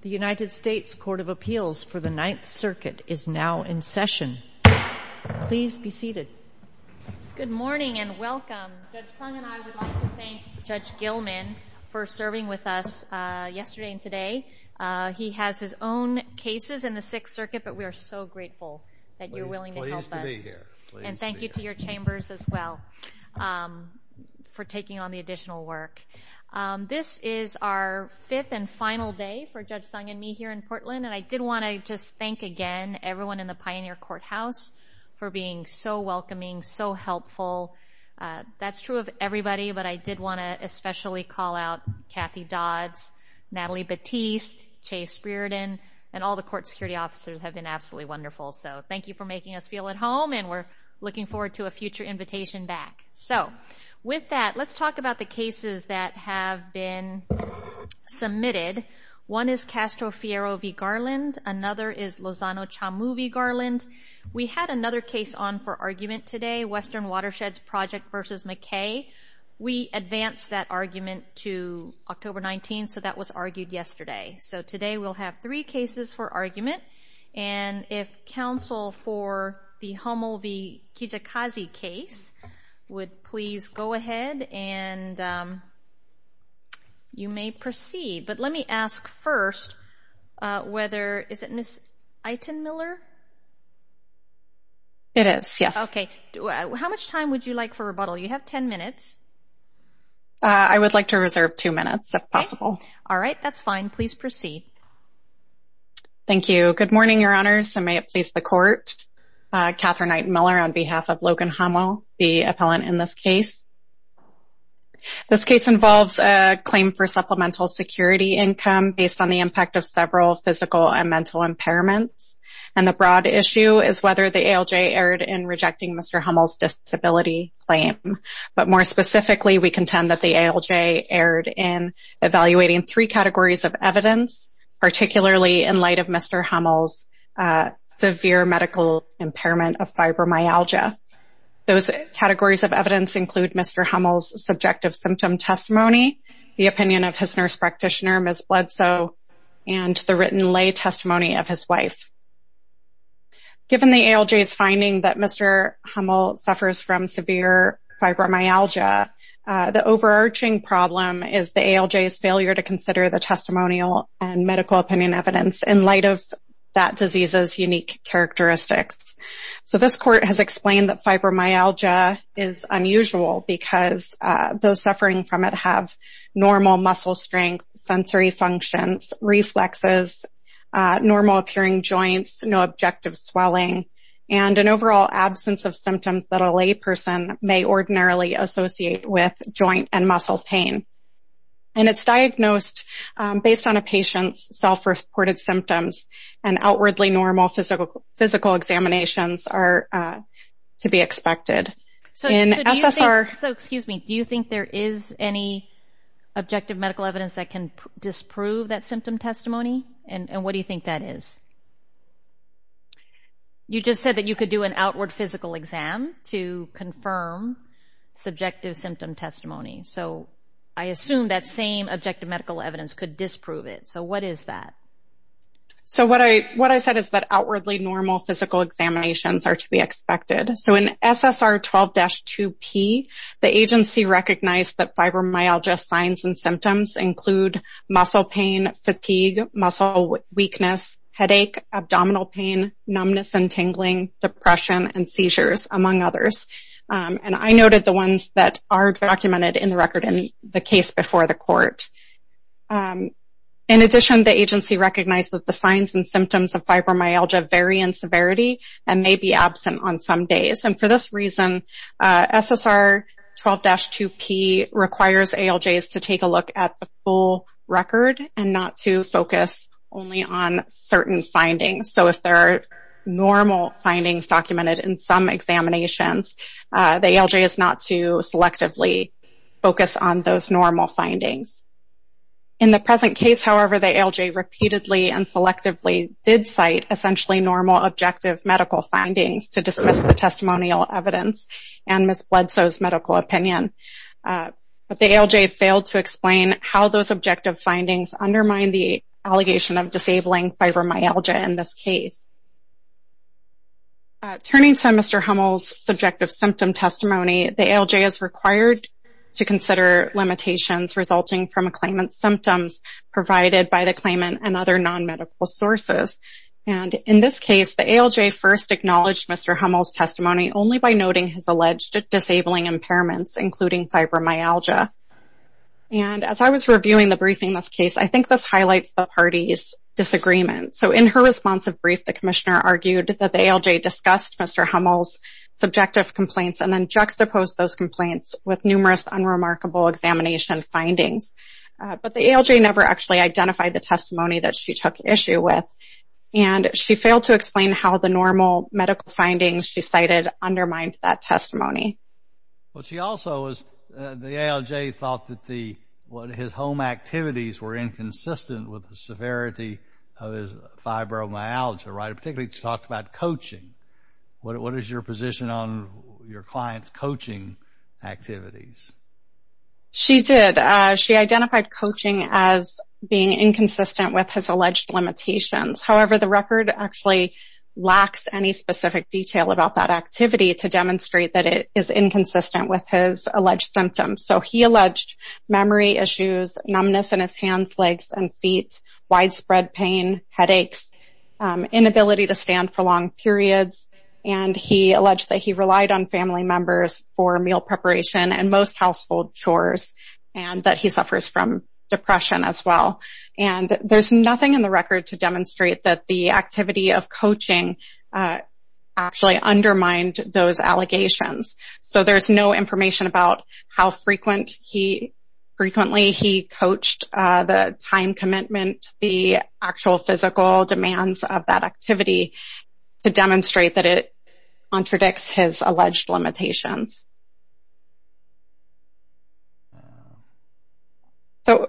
The United States Court of Appeals for the Ninth Circuit is now in session. Please be seated. Good morning and welcome. Judge Sung and I would like to thank Judge Gilman for serving with us yesterday and today. He has his own cases in the Sixth Circuit, but we are so grateful that you're willing to help us. Pleased to be here. And thank you to your chambers as well for taking on the additional work. This is our fifth and final day for Judge Sung and me here in Portland, and I did want to just thank again everyone in the Pioneer Courthouse for being so welcoming, so helpful. That's true of everybody, but I did want to especially call out Kathy Dodds, Natalie Batiste, Chase Brearden, and all the court security officers who have been absolutely wonderful. So thank you for making us feel at home, and we're looking forward to a future invitation back. So with that, let's talk about the cases that have been submitted. One is Castro Fierro v. Garland. Another is Lozano Chamu v. Garland. We had another case on for argument today, Western Watersheds Project v. McKay. We advanced that argument to October 19, so that was argued yesterday. So today we'll have three cases for argument, and if counsel for the Hummel v. Kijikazi case would please go ahead and you may proceed. But let me ask first whether, is it Ms. Aiton-Miller? It is, yes. Okay. How much time would you like for rebuttal? You have 10 minutes. I would like to reserve two minutes if possible. All right. That's fine. Please proceed. Thank you. Good morning, Your Honors, and may it please the Court. Catherine Aiton-Miller on behalf of Logan Hummel, the appellant in this case. This case involves a claim for supplemental security income based on the impact of several physical and mental impairments, and the broad issue is whether the ALJ erred in rejecting Mr. Hummel's disability claim. But more specifically, we contend that the ALJ erred in evaluating three categories of evidence, particularly in light of Mr. Hummel's severe medical impairment of fibromyalgia. Those categories of evidence include Mr. Hummel's subjective symptom testimony, the opinion of his nurse practitioner, Ms. Bledsoe, and the written lay testimony of his wife. Given the ALJ's finding that Mr. Hummel suffers from severe fibromyalgia, the overarching problem is the ALJ's failure to consider the testimonial and medical opinion evidence in light of that disease's unique characteristics. So this Court has explained that fibromyalgia is unusual because those suffering from it have normal muscle strength, sensory functions, reflexes, normal appearing joints, no objective swelling, and an overall absence of symptoms that a lay person may ordinarily associate with joint and muscle pain. And it's diagnosed based on a patient's self-reported symptoms, and outwardly normal physical examinations are to be expected. So, excuse me, do you think there is any objective medical evidence that can disprove that symptom testimony? And what do you think that is? You just said that you could do an outward physical exam to confirm subjective symptom testimony. So I assume that same objective medical evidence could disprove it. So what is that? So what I said is that outwardly normal physical examinations are to be expected. So in SSR 12-2P, the agency recognized that fibromyalgia signs and symptoms include muscle pain, fatigue, muscle weakness, headache, abdominal pain, numbness and tingling, depression, and seizures, among others. And I noted the ones that are documented in the record in the case before the Court. In addition, the agency recognized that the signs and symptoms of fibromyalgia vary in severity and may be absent on some days. And for this reason, SSR 12-2P requires ALJs to take a look at the full record and not to focus only on certain findings. So if there are normal findings documented in some examinations, the ALJ is not to selectively focus on those normal findings. In the present case, however, the ALJ repeatedly and selectively did cite essentially normal objective medical findings to dismiss the testimonial evidence and Ms. Bledsoe's medical opinion. But the ALJ failed to explain how those objective findings undermine the allegation of disabling fibromyalgia in this case. Turning to Mr. Hummel's subjective symptom testimony, the ALJ is required to consider limitations resulting from a claimant's symptoms provided by the claimant and other non-medical sources. And in this case, the ALJ first acknowledged Mr. Hummel's testimony only by noting his alleged disabling impairments, including fibromyalgia. And as I was reviewing the briefing in this case, I think this highlights the party's disagreement. So in her responsive brief, the Commissioner argued that the ALJ discussed Mr. Hummel's subjective complaints and then juxtaposed those complaints with numerous unremarkable examination findings. But the ALJ never actually identified the testimony that she took issue with, and she failed to explain how the normal medical findings she cited undermined that testimony. Well, she also was, the ALJ thought that his home activities were inconsistent with the severity of his fibromyalgia, right? What is your position on your client's coaching activities? She did. She identified coaching as being inconsistent with his alleged limitations. However, the record actually lacks any specific detail about that activity to demonstrate that it is inconsistent with his alleged symptoms. So he alleged memory issues, numbness in his hands, legs, and feet, widespread pain, headaches, inability to stand for long periods, and he alleged that he relied on family members for meal preparation and most household chores, and that he suffers from depression as well. And there's nothing in the record to demonstrate that the activity of coaching actually undermined those allegations. So there's no information about how frequently he coached the time commitment, the actual physical demands of that activity, to demonstrate that it contradicts his alleged limitations. So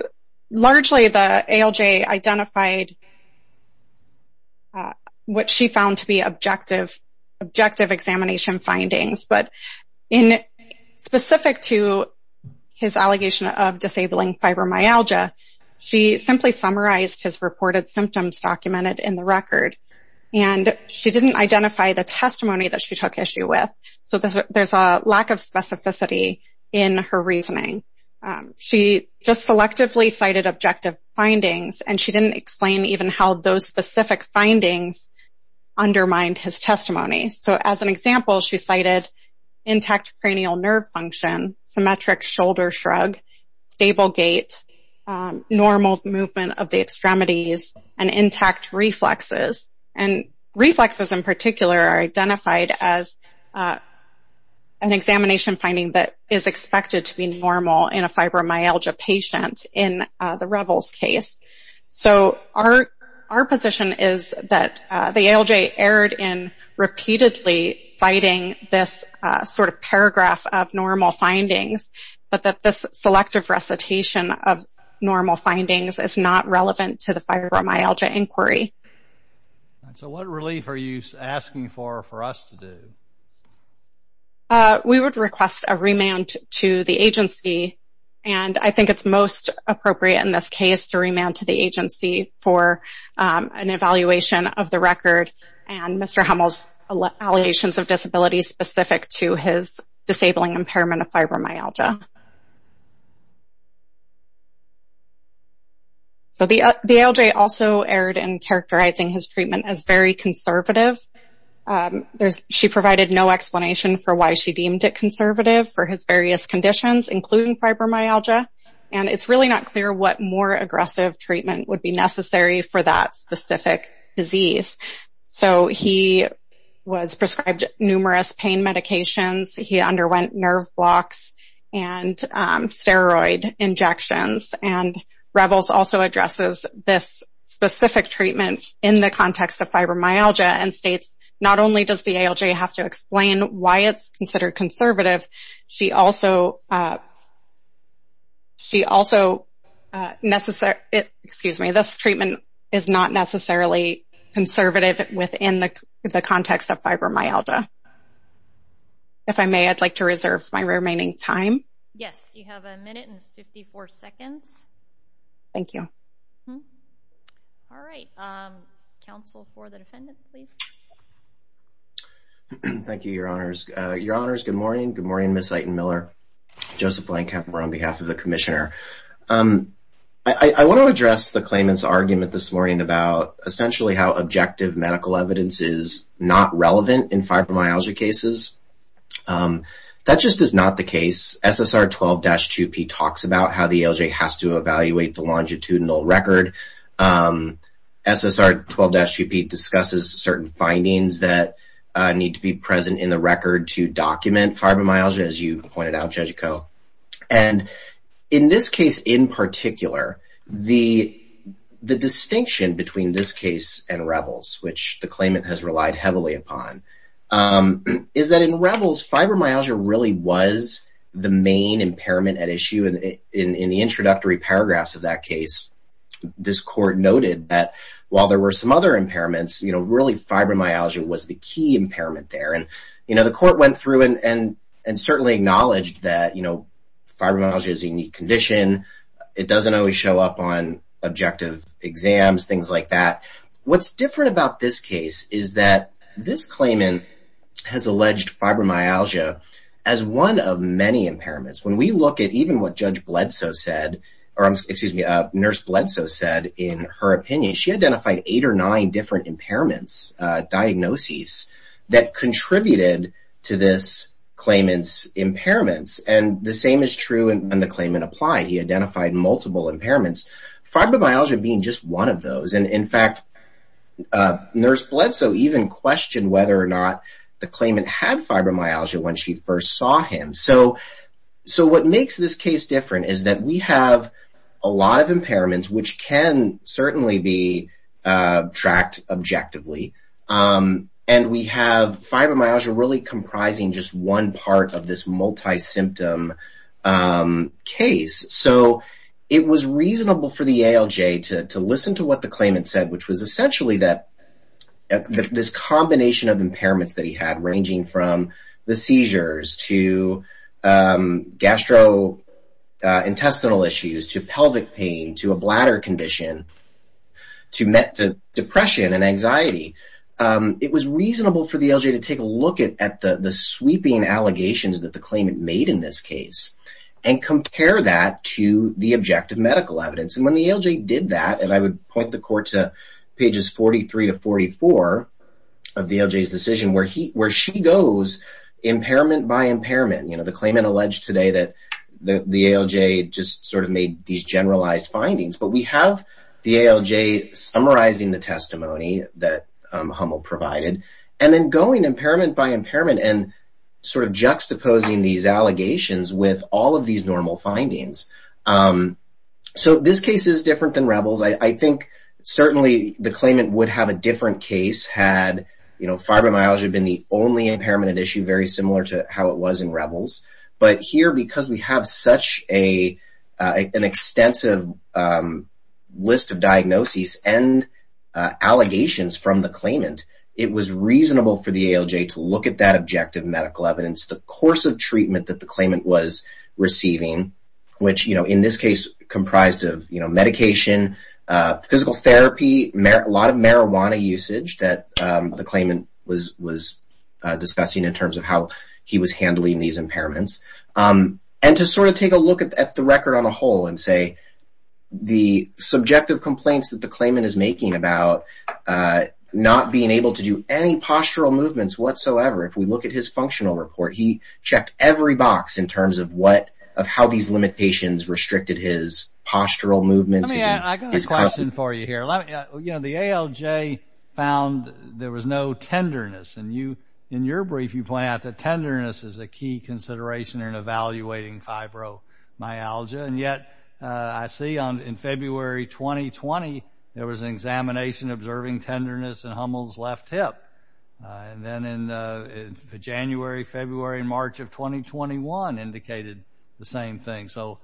largely the ALJ identified what she found to be objective examination findings, but specific to his allegation of disabling fibromyalgia, she simply summarized his reported symptoms documented in the record. And she didn't identify the testimony that she took issue with, so there's a lack of specificity in her reasoning. She just selectively cited objective findings, and she didn't explain even how those specific findings undermined his testimony. So as an example, she cited intact cranial nerve function, symmetric shoulder shrug, stable gait, normal movement of the extremities, and intact reflexes. And reflexes in particular are identified as an examination finding that is expected to be normal in a fibromyalgia patient in the Revels case. So our position is that the ALJ erred in repeatedly citing this sort of paragraph of normal findings, but that this selective recitation of normal findings is not relevant to the fibromyalgia inquiry. So what relief are you asking for for us to do? We would request a remand to the agency, and I think it's most appropriate in this case to remand to the agency for an evaluation of the record and Mr. Hummel's allegations of disability specific to his disabling impairment of fibromyalgia. So the ALJ also erred in characterizing his treatment as very conservative. She provided no explanation for why she deemed it conservative for his various conditions, including fibromyalgia, and it's really not clear what more aggressive treatment would be necessary for that specific disease. So he was prescribed numerous pain medications. He underwent nerve blocks and steroid injections, and Revels also addresses this specific treatment in the context of fibromyalgia and states not only does the ALJ have to explain why it's considered conservative, this treatment is not necessarily conservative within the context of fibromyalgia. If I may, I'd like to reserve my remaining time. Yes, you have a minute and 54 seconds. Thank you. All right. Counsel for the defendant, please. Thank you, Your Honors. Your Honors, good morning. Good morning, Ms. Eitenmiller. Joseph Blankheimer on behalf of the commissioner. I want to address the claimant's argument this morning about essentially how objective medical evidence is not relevant in fibromyalgia cases. That just is not the case. SSR 12-2P talks about how the ALJ has to evaluate the longitudinal record. SSR 12-2P discusses certain findings that need to be present in the record to document fibromyalgia, as you pointed out, Judge Coe. And in this case in particular, the distinction between this case and Revels, which the claimant has relied heavily upon, is that in Revels, fibromyalgia really was the main impairment at issue. And in the introductory paragraphs of that case, this court noted that while there were some other impairments, really fibromyalgia was the key impairment there. And the court went through and certainly acknowledged that fibromyalgia is a unique condition. It doesn't always show up on objective exams, things like that. What's different about this case is that this claimant has alleged fibromyalgia as one of many impairments. When we look at even what Judge Bledsoe said, or excuse me, Nurse Bledsoe said in her opinion, she identified eight or nine different impairments, diagnoses, that contributed to this claimant's impairments. And the same is true when the claimant applied. He identified multiple impairments, fibromyalgia being just one of those. And in fact, Nurse Bledsoe even questioned whether or not the claimant had fibromyalgia when she first saw him. So what makes this case different is that we have a lot of impairments, which can certainly be tracked objectively. And we have fibromyalgia really comprising just one part of this multi-symptom case. So it was reasonable for the ALJ to listen to what the claimant said, which was essentially that this combination of impairments that he had, ranging from the seizures to gastrointestinal issues, to pelvic pain, to a bladder condition, to depression and anxiety. It was reasonable for the ALJ to take a look at the sweeping allegations that the claimant made in this case and compare that to the objective medical evidence. And when the ALJ did that, and I would point the court to pages 43 to 44 of the ALJ's decision, where she goes impairment by impairment. You know, the claimant alleged today that the ALJ just sort of made these generalized findings. But we have the ALJ summarizing the testimony that Hummel provided, and then going impairment by impairment and sort of juxtaposing these allegations with all of these normal findings. So this case is different than Rebels. I think certainly the claimant would have a different case had fibromyalgia been the only impairment at issue, very similar to how it was in Rebels. But here, because we have such an extensive list of diagnoses and allegations from the claimant, it was reasonable for the ALJ to look at that objective medical evidence, the course of treatment that the claimant was receiving, which in this case comprised of medication, physical therapy, a lot of marijuana usage that the claimant was discussing in terms of how he was handling these impairments. And to sort of take a look at the record on the whole and say, the subjective complaints that the claimant is making about not being able to do any postural movements whatsoever, if we look at his functional report, he checked every box in terms of how these limitations restricted his postural movements. Let me ask a question for you here. You know, the ALJ found there was no tenderness. And in your brief, you point out that tenderness is a key consideration in evaluating fibromyalgia. And yet, I see in February 2020, there was an examination observing tenderness in Hummel's left hip. And then in January, February, and March of 2021, indicated the same thing. So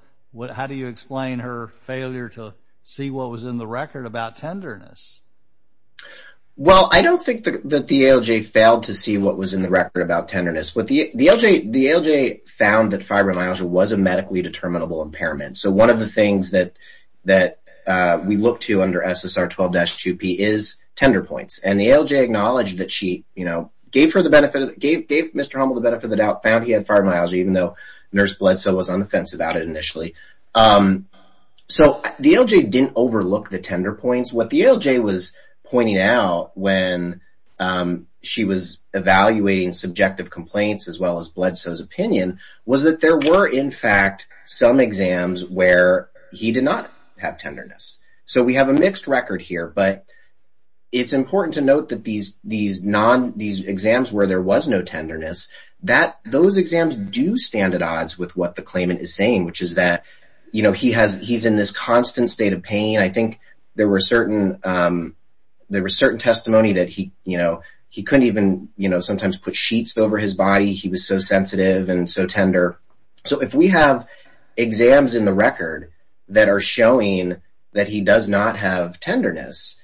how do you explain her failure to see what was in the record about tenderness? Well, I don't think that the ALJ failed to see what was in the record about tenderness. The ALJ found that fibromyalgia was a medically determinable impairment. So one of the things that we look to under SSR 12-2P is tender points. And the ALJ acknowledged that she, you know, gave Mr. Hummel the benefit of the doubt, found he had fibromyalgia, even though Nurse Bledsoe was on the fence about it initially. So the ALJ didn't overlook the tender points. What the ALJ was pointing out when she was evaluating subjective complaints, as well as Bledsoe's opinion, was that there were, in fact, some exams where he did not have tenderness. So we have a mixed record here, but it's important to note that these exams where there was no tenderness, those exams do stand at odds with what the claimant is saying, which is that, you know, he's in this constant state of pain. I think there were certain testimony that he couldn't even sometimes put sheets over his body. He was so sensitive and so tender. So if we have exams in the record that are showing that he does not have tenderness,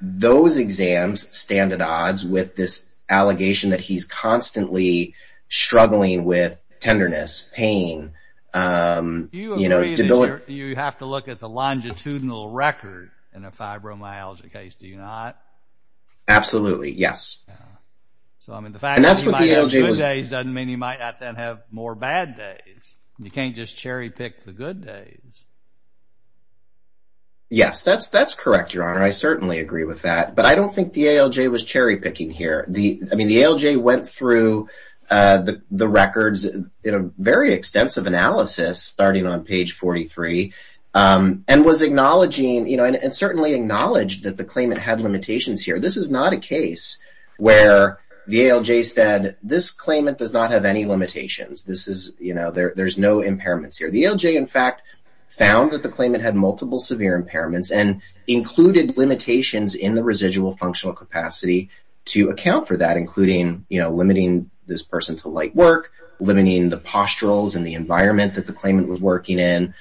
those exams stand at odds with this allegation that he's constantly struggling with tenderness, pain, you know, debility. There's no longitudinal record in a fibromyalgia case, do you not? Absolutely, yes. So, I mean, the fact that he might have good days doesn't mean he might not then have more bad days. You can't just cherry-pick the good days. Yes, that's correct, Your Honor. I certainly agree with that, but I don't think the ALJ was cherry-picking here. I mean, the ALJ went through the records in a very extensive analysis starting on page 43 and was acknowledging, you know, and certainly acknowledged that the claimant had limitations here. This is not a case where the ALJ said, this claimant does not have any limitations. This is, you know, there's no impairments here. The ALJ, in fact, found that the claimant had multiple severe impairments and included limitations in the residual functional capacity to account for that, including, you know, limiting this person to light work, limiting the posturals and the environment that the claimant was working in.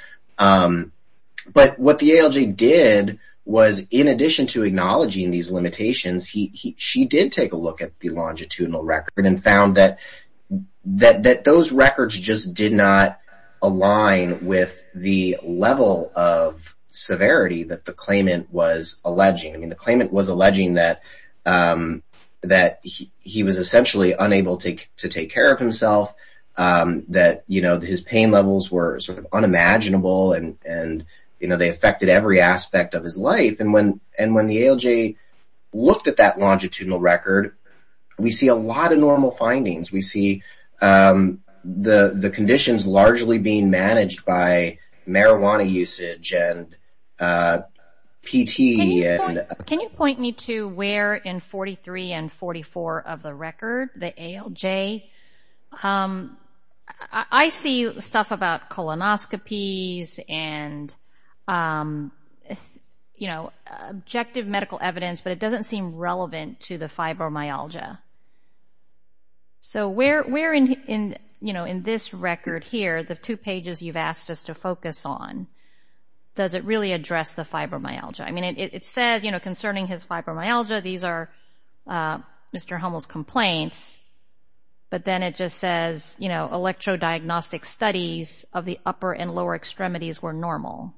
But what the ALJ did was in addition to acknowledging these limitations, she did take a look at the longitudinal record and found that those records just did not align with the level of severity that the claimant was alleging. I mean, the claimant was alleging that he was essentially unable to take care of himself, that, you know, his pain levels were sort of unimaginable and, you know, they affected every aspect of his life. And when the ALJ looked at that longitudinal record, we see a lot of normal findings. We see the conditions largely being managed by marijuana usage and PT. Can you point me to where in 43 and 44 of the record, the ALJ? I see stuff about colonoscopies and, you know, objective medical evidence, but it doesn't seem relevant to the fibromyalgia. So where in, you know, in this record here, the two pages you've asked us to focus on, does it really address the fibromyalgia? I mean, it says, you know, concerning his fibromyalgia, these are Mr. Hummel's complaints, but then it just says, you know, electrodiagnostic studies of the upper and lower extremities were normal.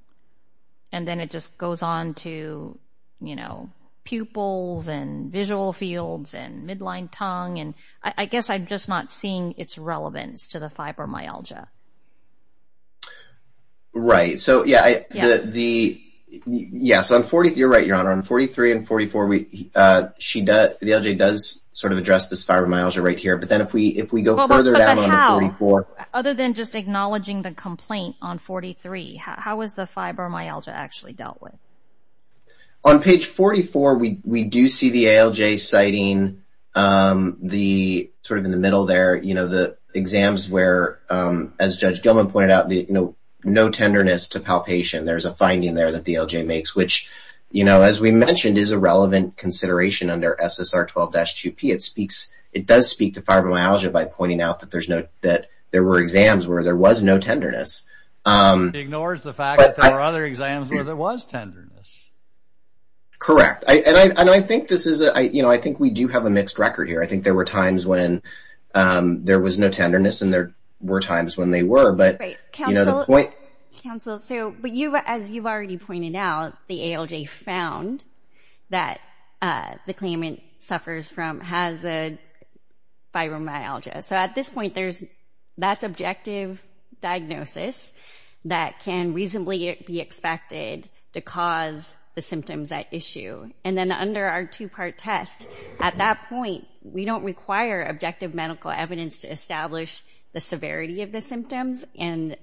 And then it just goes on to, you know, pupils and visual fields and midline tongue, and I guess I'm just not seeing its relevance to the fibromyalgia. Right. So, yeah, the, yes, on 43, you're right, Your Honor, on 43 and 44, the ALJ does sort of address this fibromyalgia right here, but then if we go further down on the 44. Other than just acknowledging the complaint on 43, how is the fibromyalgia actually dealt with? On page 44, we do see the ALJ citing the, sort of in the middle there, you know, the exams where, as Judge Gilman pointed out, you know, no tenderness to palpation. There's a finding there that the ALJ makes, which, you know, as we mentioned, is a relevant consideration under SSR 12-2P. It speaks, it does speak to fibromyalgia by pointing out that there's no, that there were exams where there was no tenderness. It ignores the fact that there were other exams where there was tenderness. Correct. And I think this is, you know, I think we do have a mixed record here. I think there were times when there was no tenderness and there were times when they were, but, you know, the point. Counsel, so, but you, as you've already pointed out, the ALJ found that the claimant suffers from, has fibromyalgia. So at this point, there's, that's objective diagnosis that can reasonably be expected to cause the symptoms at issue. And then under our two-part test, at that point, we don't require objective medical evidence to establish the severity of the symptoms and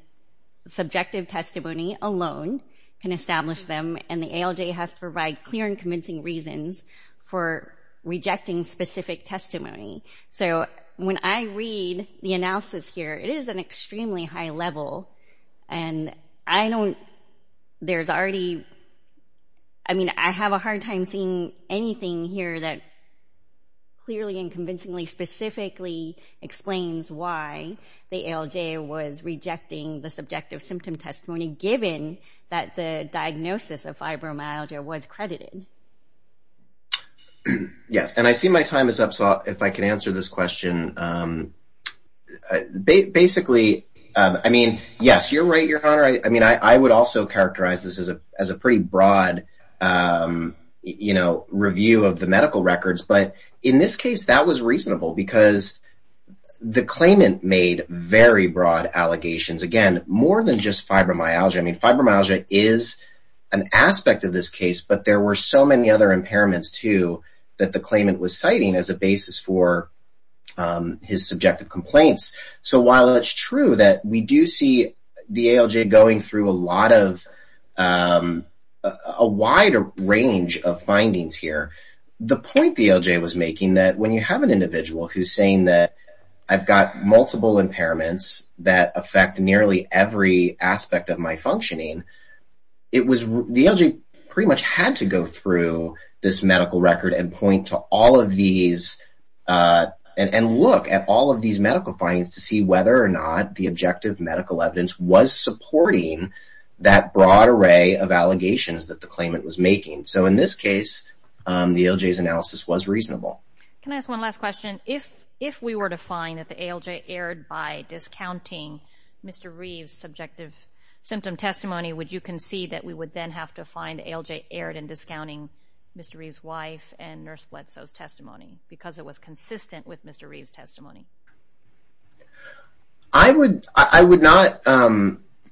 subjective testimony alone can establish them. And the ALJ has to provide clear and convincing reasons for rejecting specific testimony. So when I read the analysis here, it is an extremely high level. And I don't, there's already, I mean, I have a hard time seeing anything here that clearly and convincingly specifically explains why the ALJ was rejecting the subjective symptom testimony, given that the diagnosis of fibromyalgia was credited. Yes, and I see my time is up, so if I can answer this question. Basically, I mean, yes, you're right, Your Honor. I mean, I would also characterize this as a pretty broad, you know, review of the medical records. But in this case, that was reasonable because the claimant made very broad allegations. Again, more than just fibromyalgia. I mean, fibromyalgia is an aspect of this case, but there were so many other impairments, too, that the claimant was citing as a basis for his subjective complaints. So while it's true that we do see the ALJ going through a lot of, a wider range of findings here, the point the ALJ was making that when you have an individual who's saying that I've got multiple impairments that affect nearly every aspect of my functioning, it was, the ALJ pretty much had to go through this medical record and point to all of these and look at all of these medical findings to see whether or not the objective medical evidence was supporting that broad array of allegations that the claimant was making. So in this case, the ALJ's analysis was reasonable. Can I ask one last question? If we were to find that the ALJ erred by discounting Mr. Reeve's subjective symptom testimony, would you concede that we would then have to find the ALJ erred in discounting Mr. Reeve's wife and Nurse Bledsoe's testimony because it was consistent with Mr. Reeve's testimony? I would not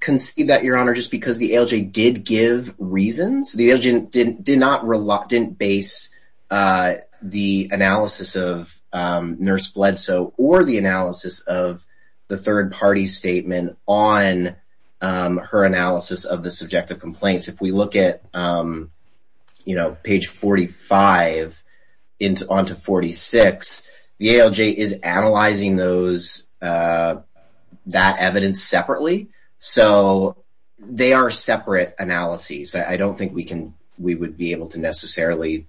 concede that, Your Honor, just because the ALJ did give reasons. The ALJ did not base the analysis of Nurse Bledsoe or the analysis of the third-party statement on her analysis of the subjective complaints. If we look at page 45 on to 46, the ALJ is analyzing that evidence separately. So they are separate analyses. I don't think we would be able to necessarily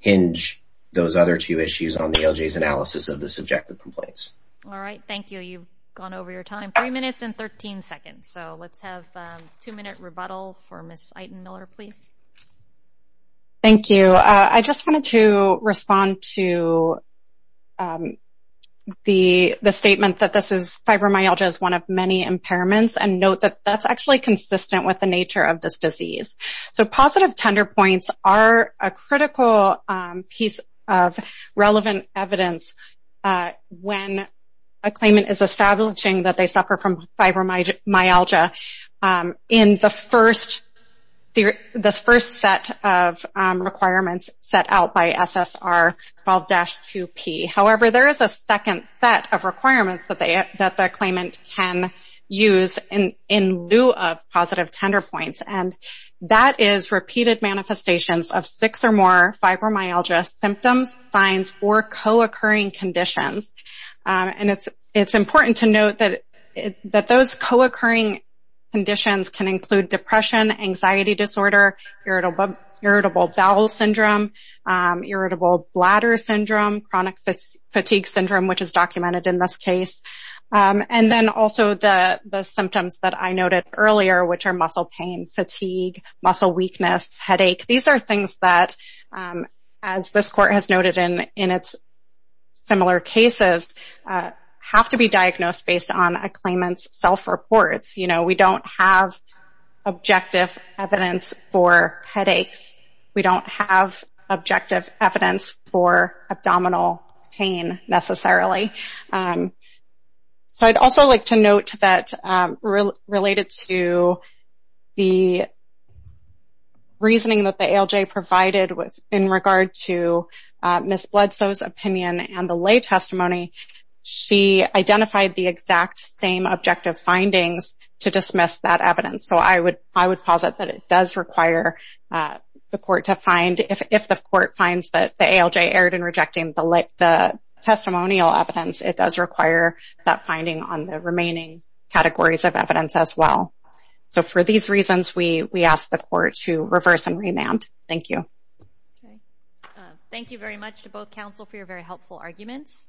hinge those other two issues on the ALJ's analysis of the subjective complaints. All right. Thank you. You've gone over your time. Three minutes and 13 seconds. So let's have a two-minute rebuttal for Ms. Eitenmiller, please. Thank you. I just wanted to respond to the statement that fibromyalgia is one of many impairments and note that that's actually consistent with the nature of this disease. So positive tender points are a critical piece of relevant evidence when a claimant is establishing that they suffer from fibromyalgia in the first set of requirements set out by SSR 12-2P. However, there is a second set of requirements that the claimant can use in lieu of positive tender points. And that is repeated manifestations of six or more fibromyalgia symptoms, signs, or co-occurring conditions. And it's important to note that those co-occurring conditions can include depression, anxiety disorder, irritable bowel syndrome, irritable bladder syndrome, chronic fatigue syndrome, which is documented in this case, and then also the symptoms that I noted earlier, which are muscle pain, fatigue, muscle weakness, headache. These are things that, as this court has noted in its similar cases, have to be diagnosed based on a claimant's self-reports. You know, we don't have objective evidence for headaches. We don't have objective evidence for abdominal pain, necessarily. So I'd also like to note that related to the reasoning that the ALJ provided in regard to Ms. Bledsoe's opinion and the lay testimony, she identified the exact same objective findings to dismiss that evidence. So I would posit that it does require the court to find, if the court finds that the ALJ erred in rejecting the testimonial evidence, it does require that finding on the remaining categories of evidence as well. So for these reasons, we ask the court to reverse and remand. Thank you. Thank you very much to both counsel for your very helpful arguments.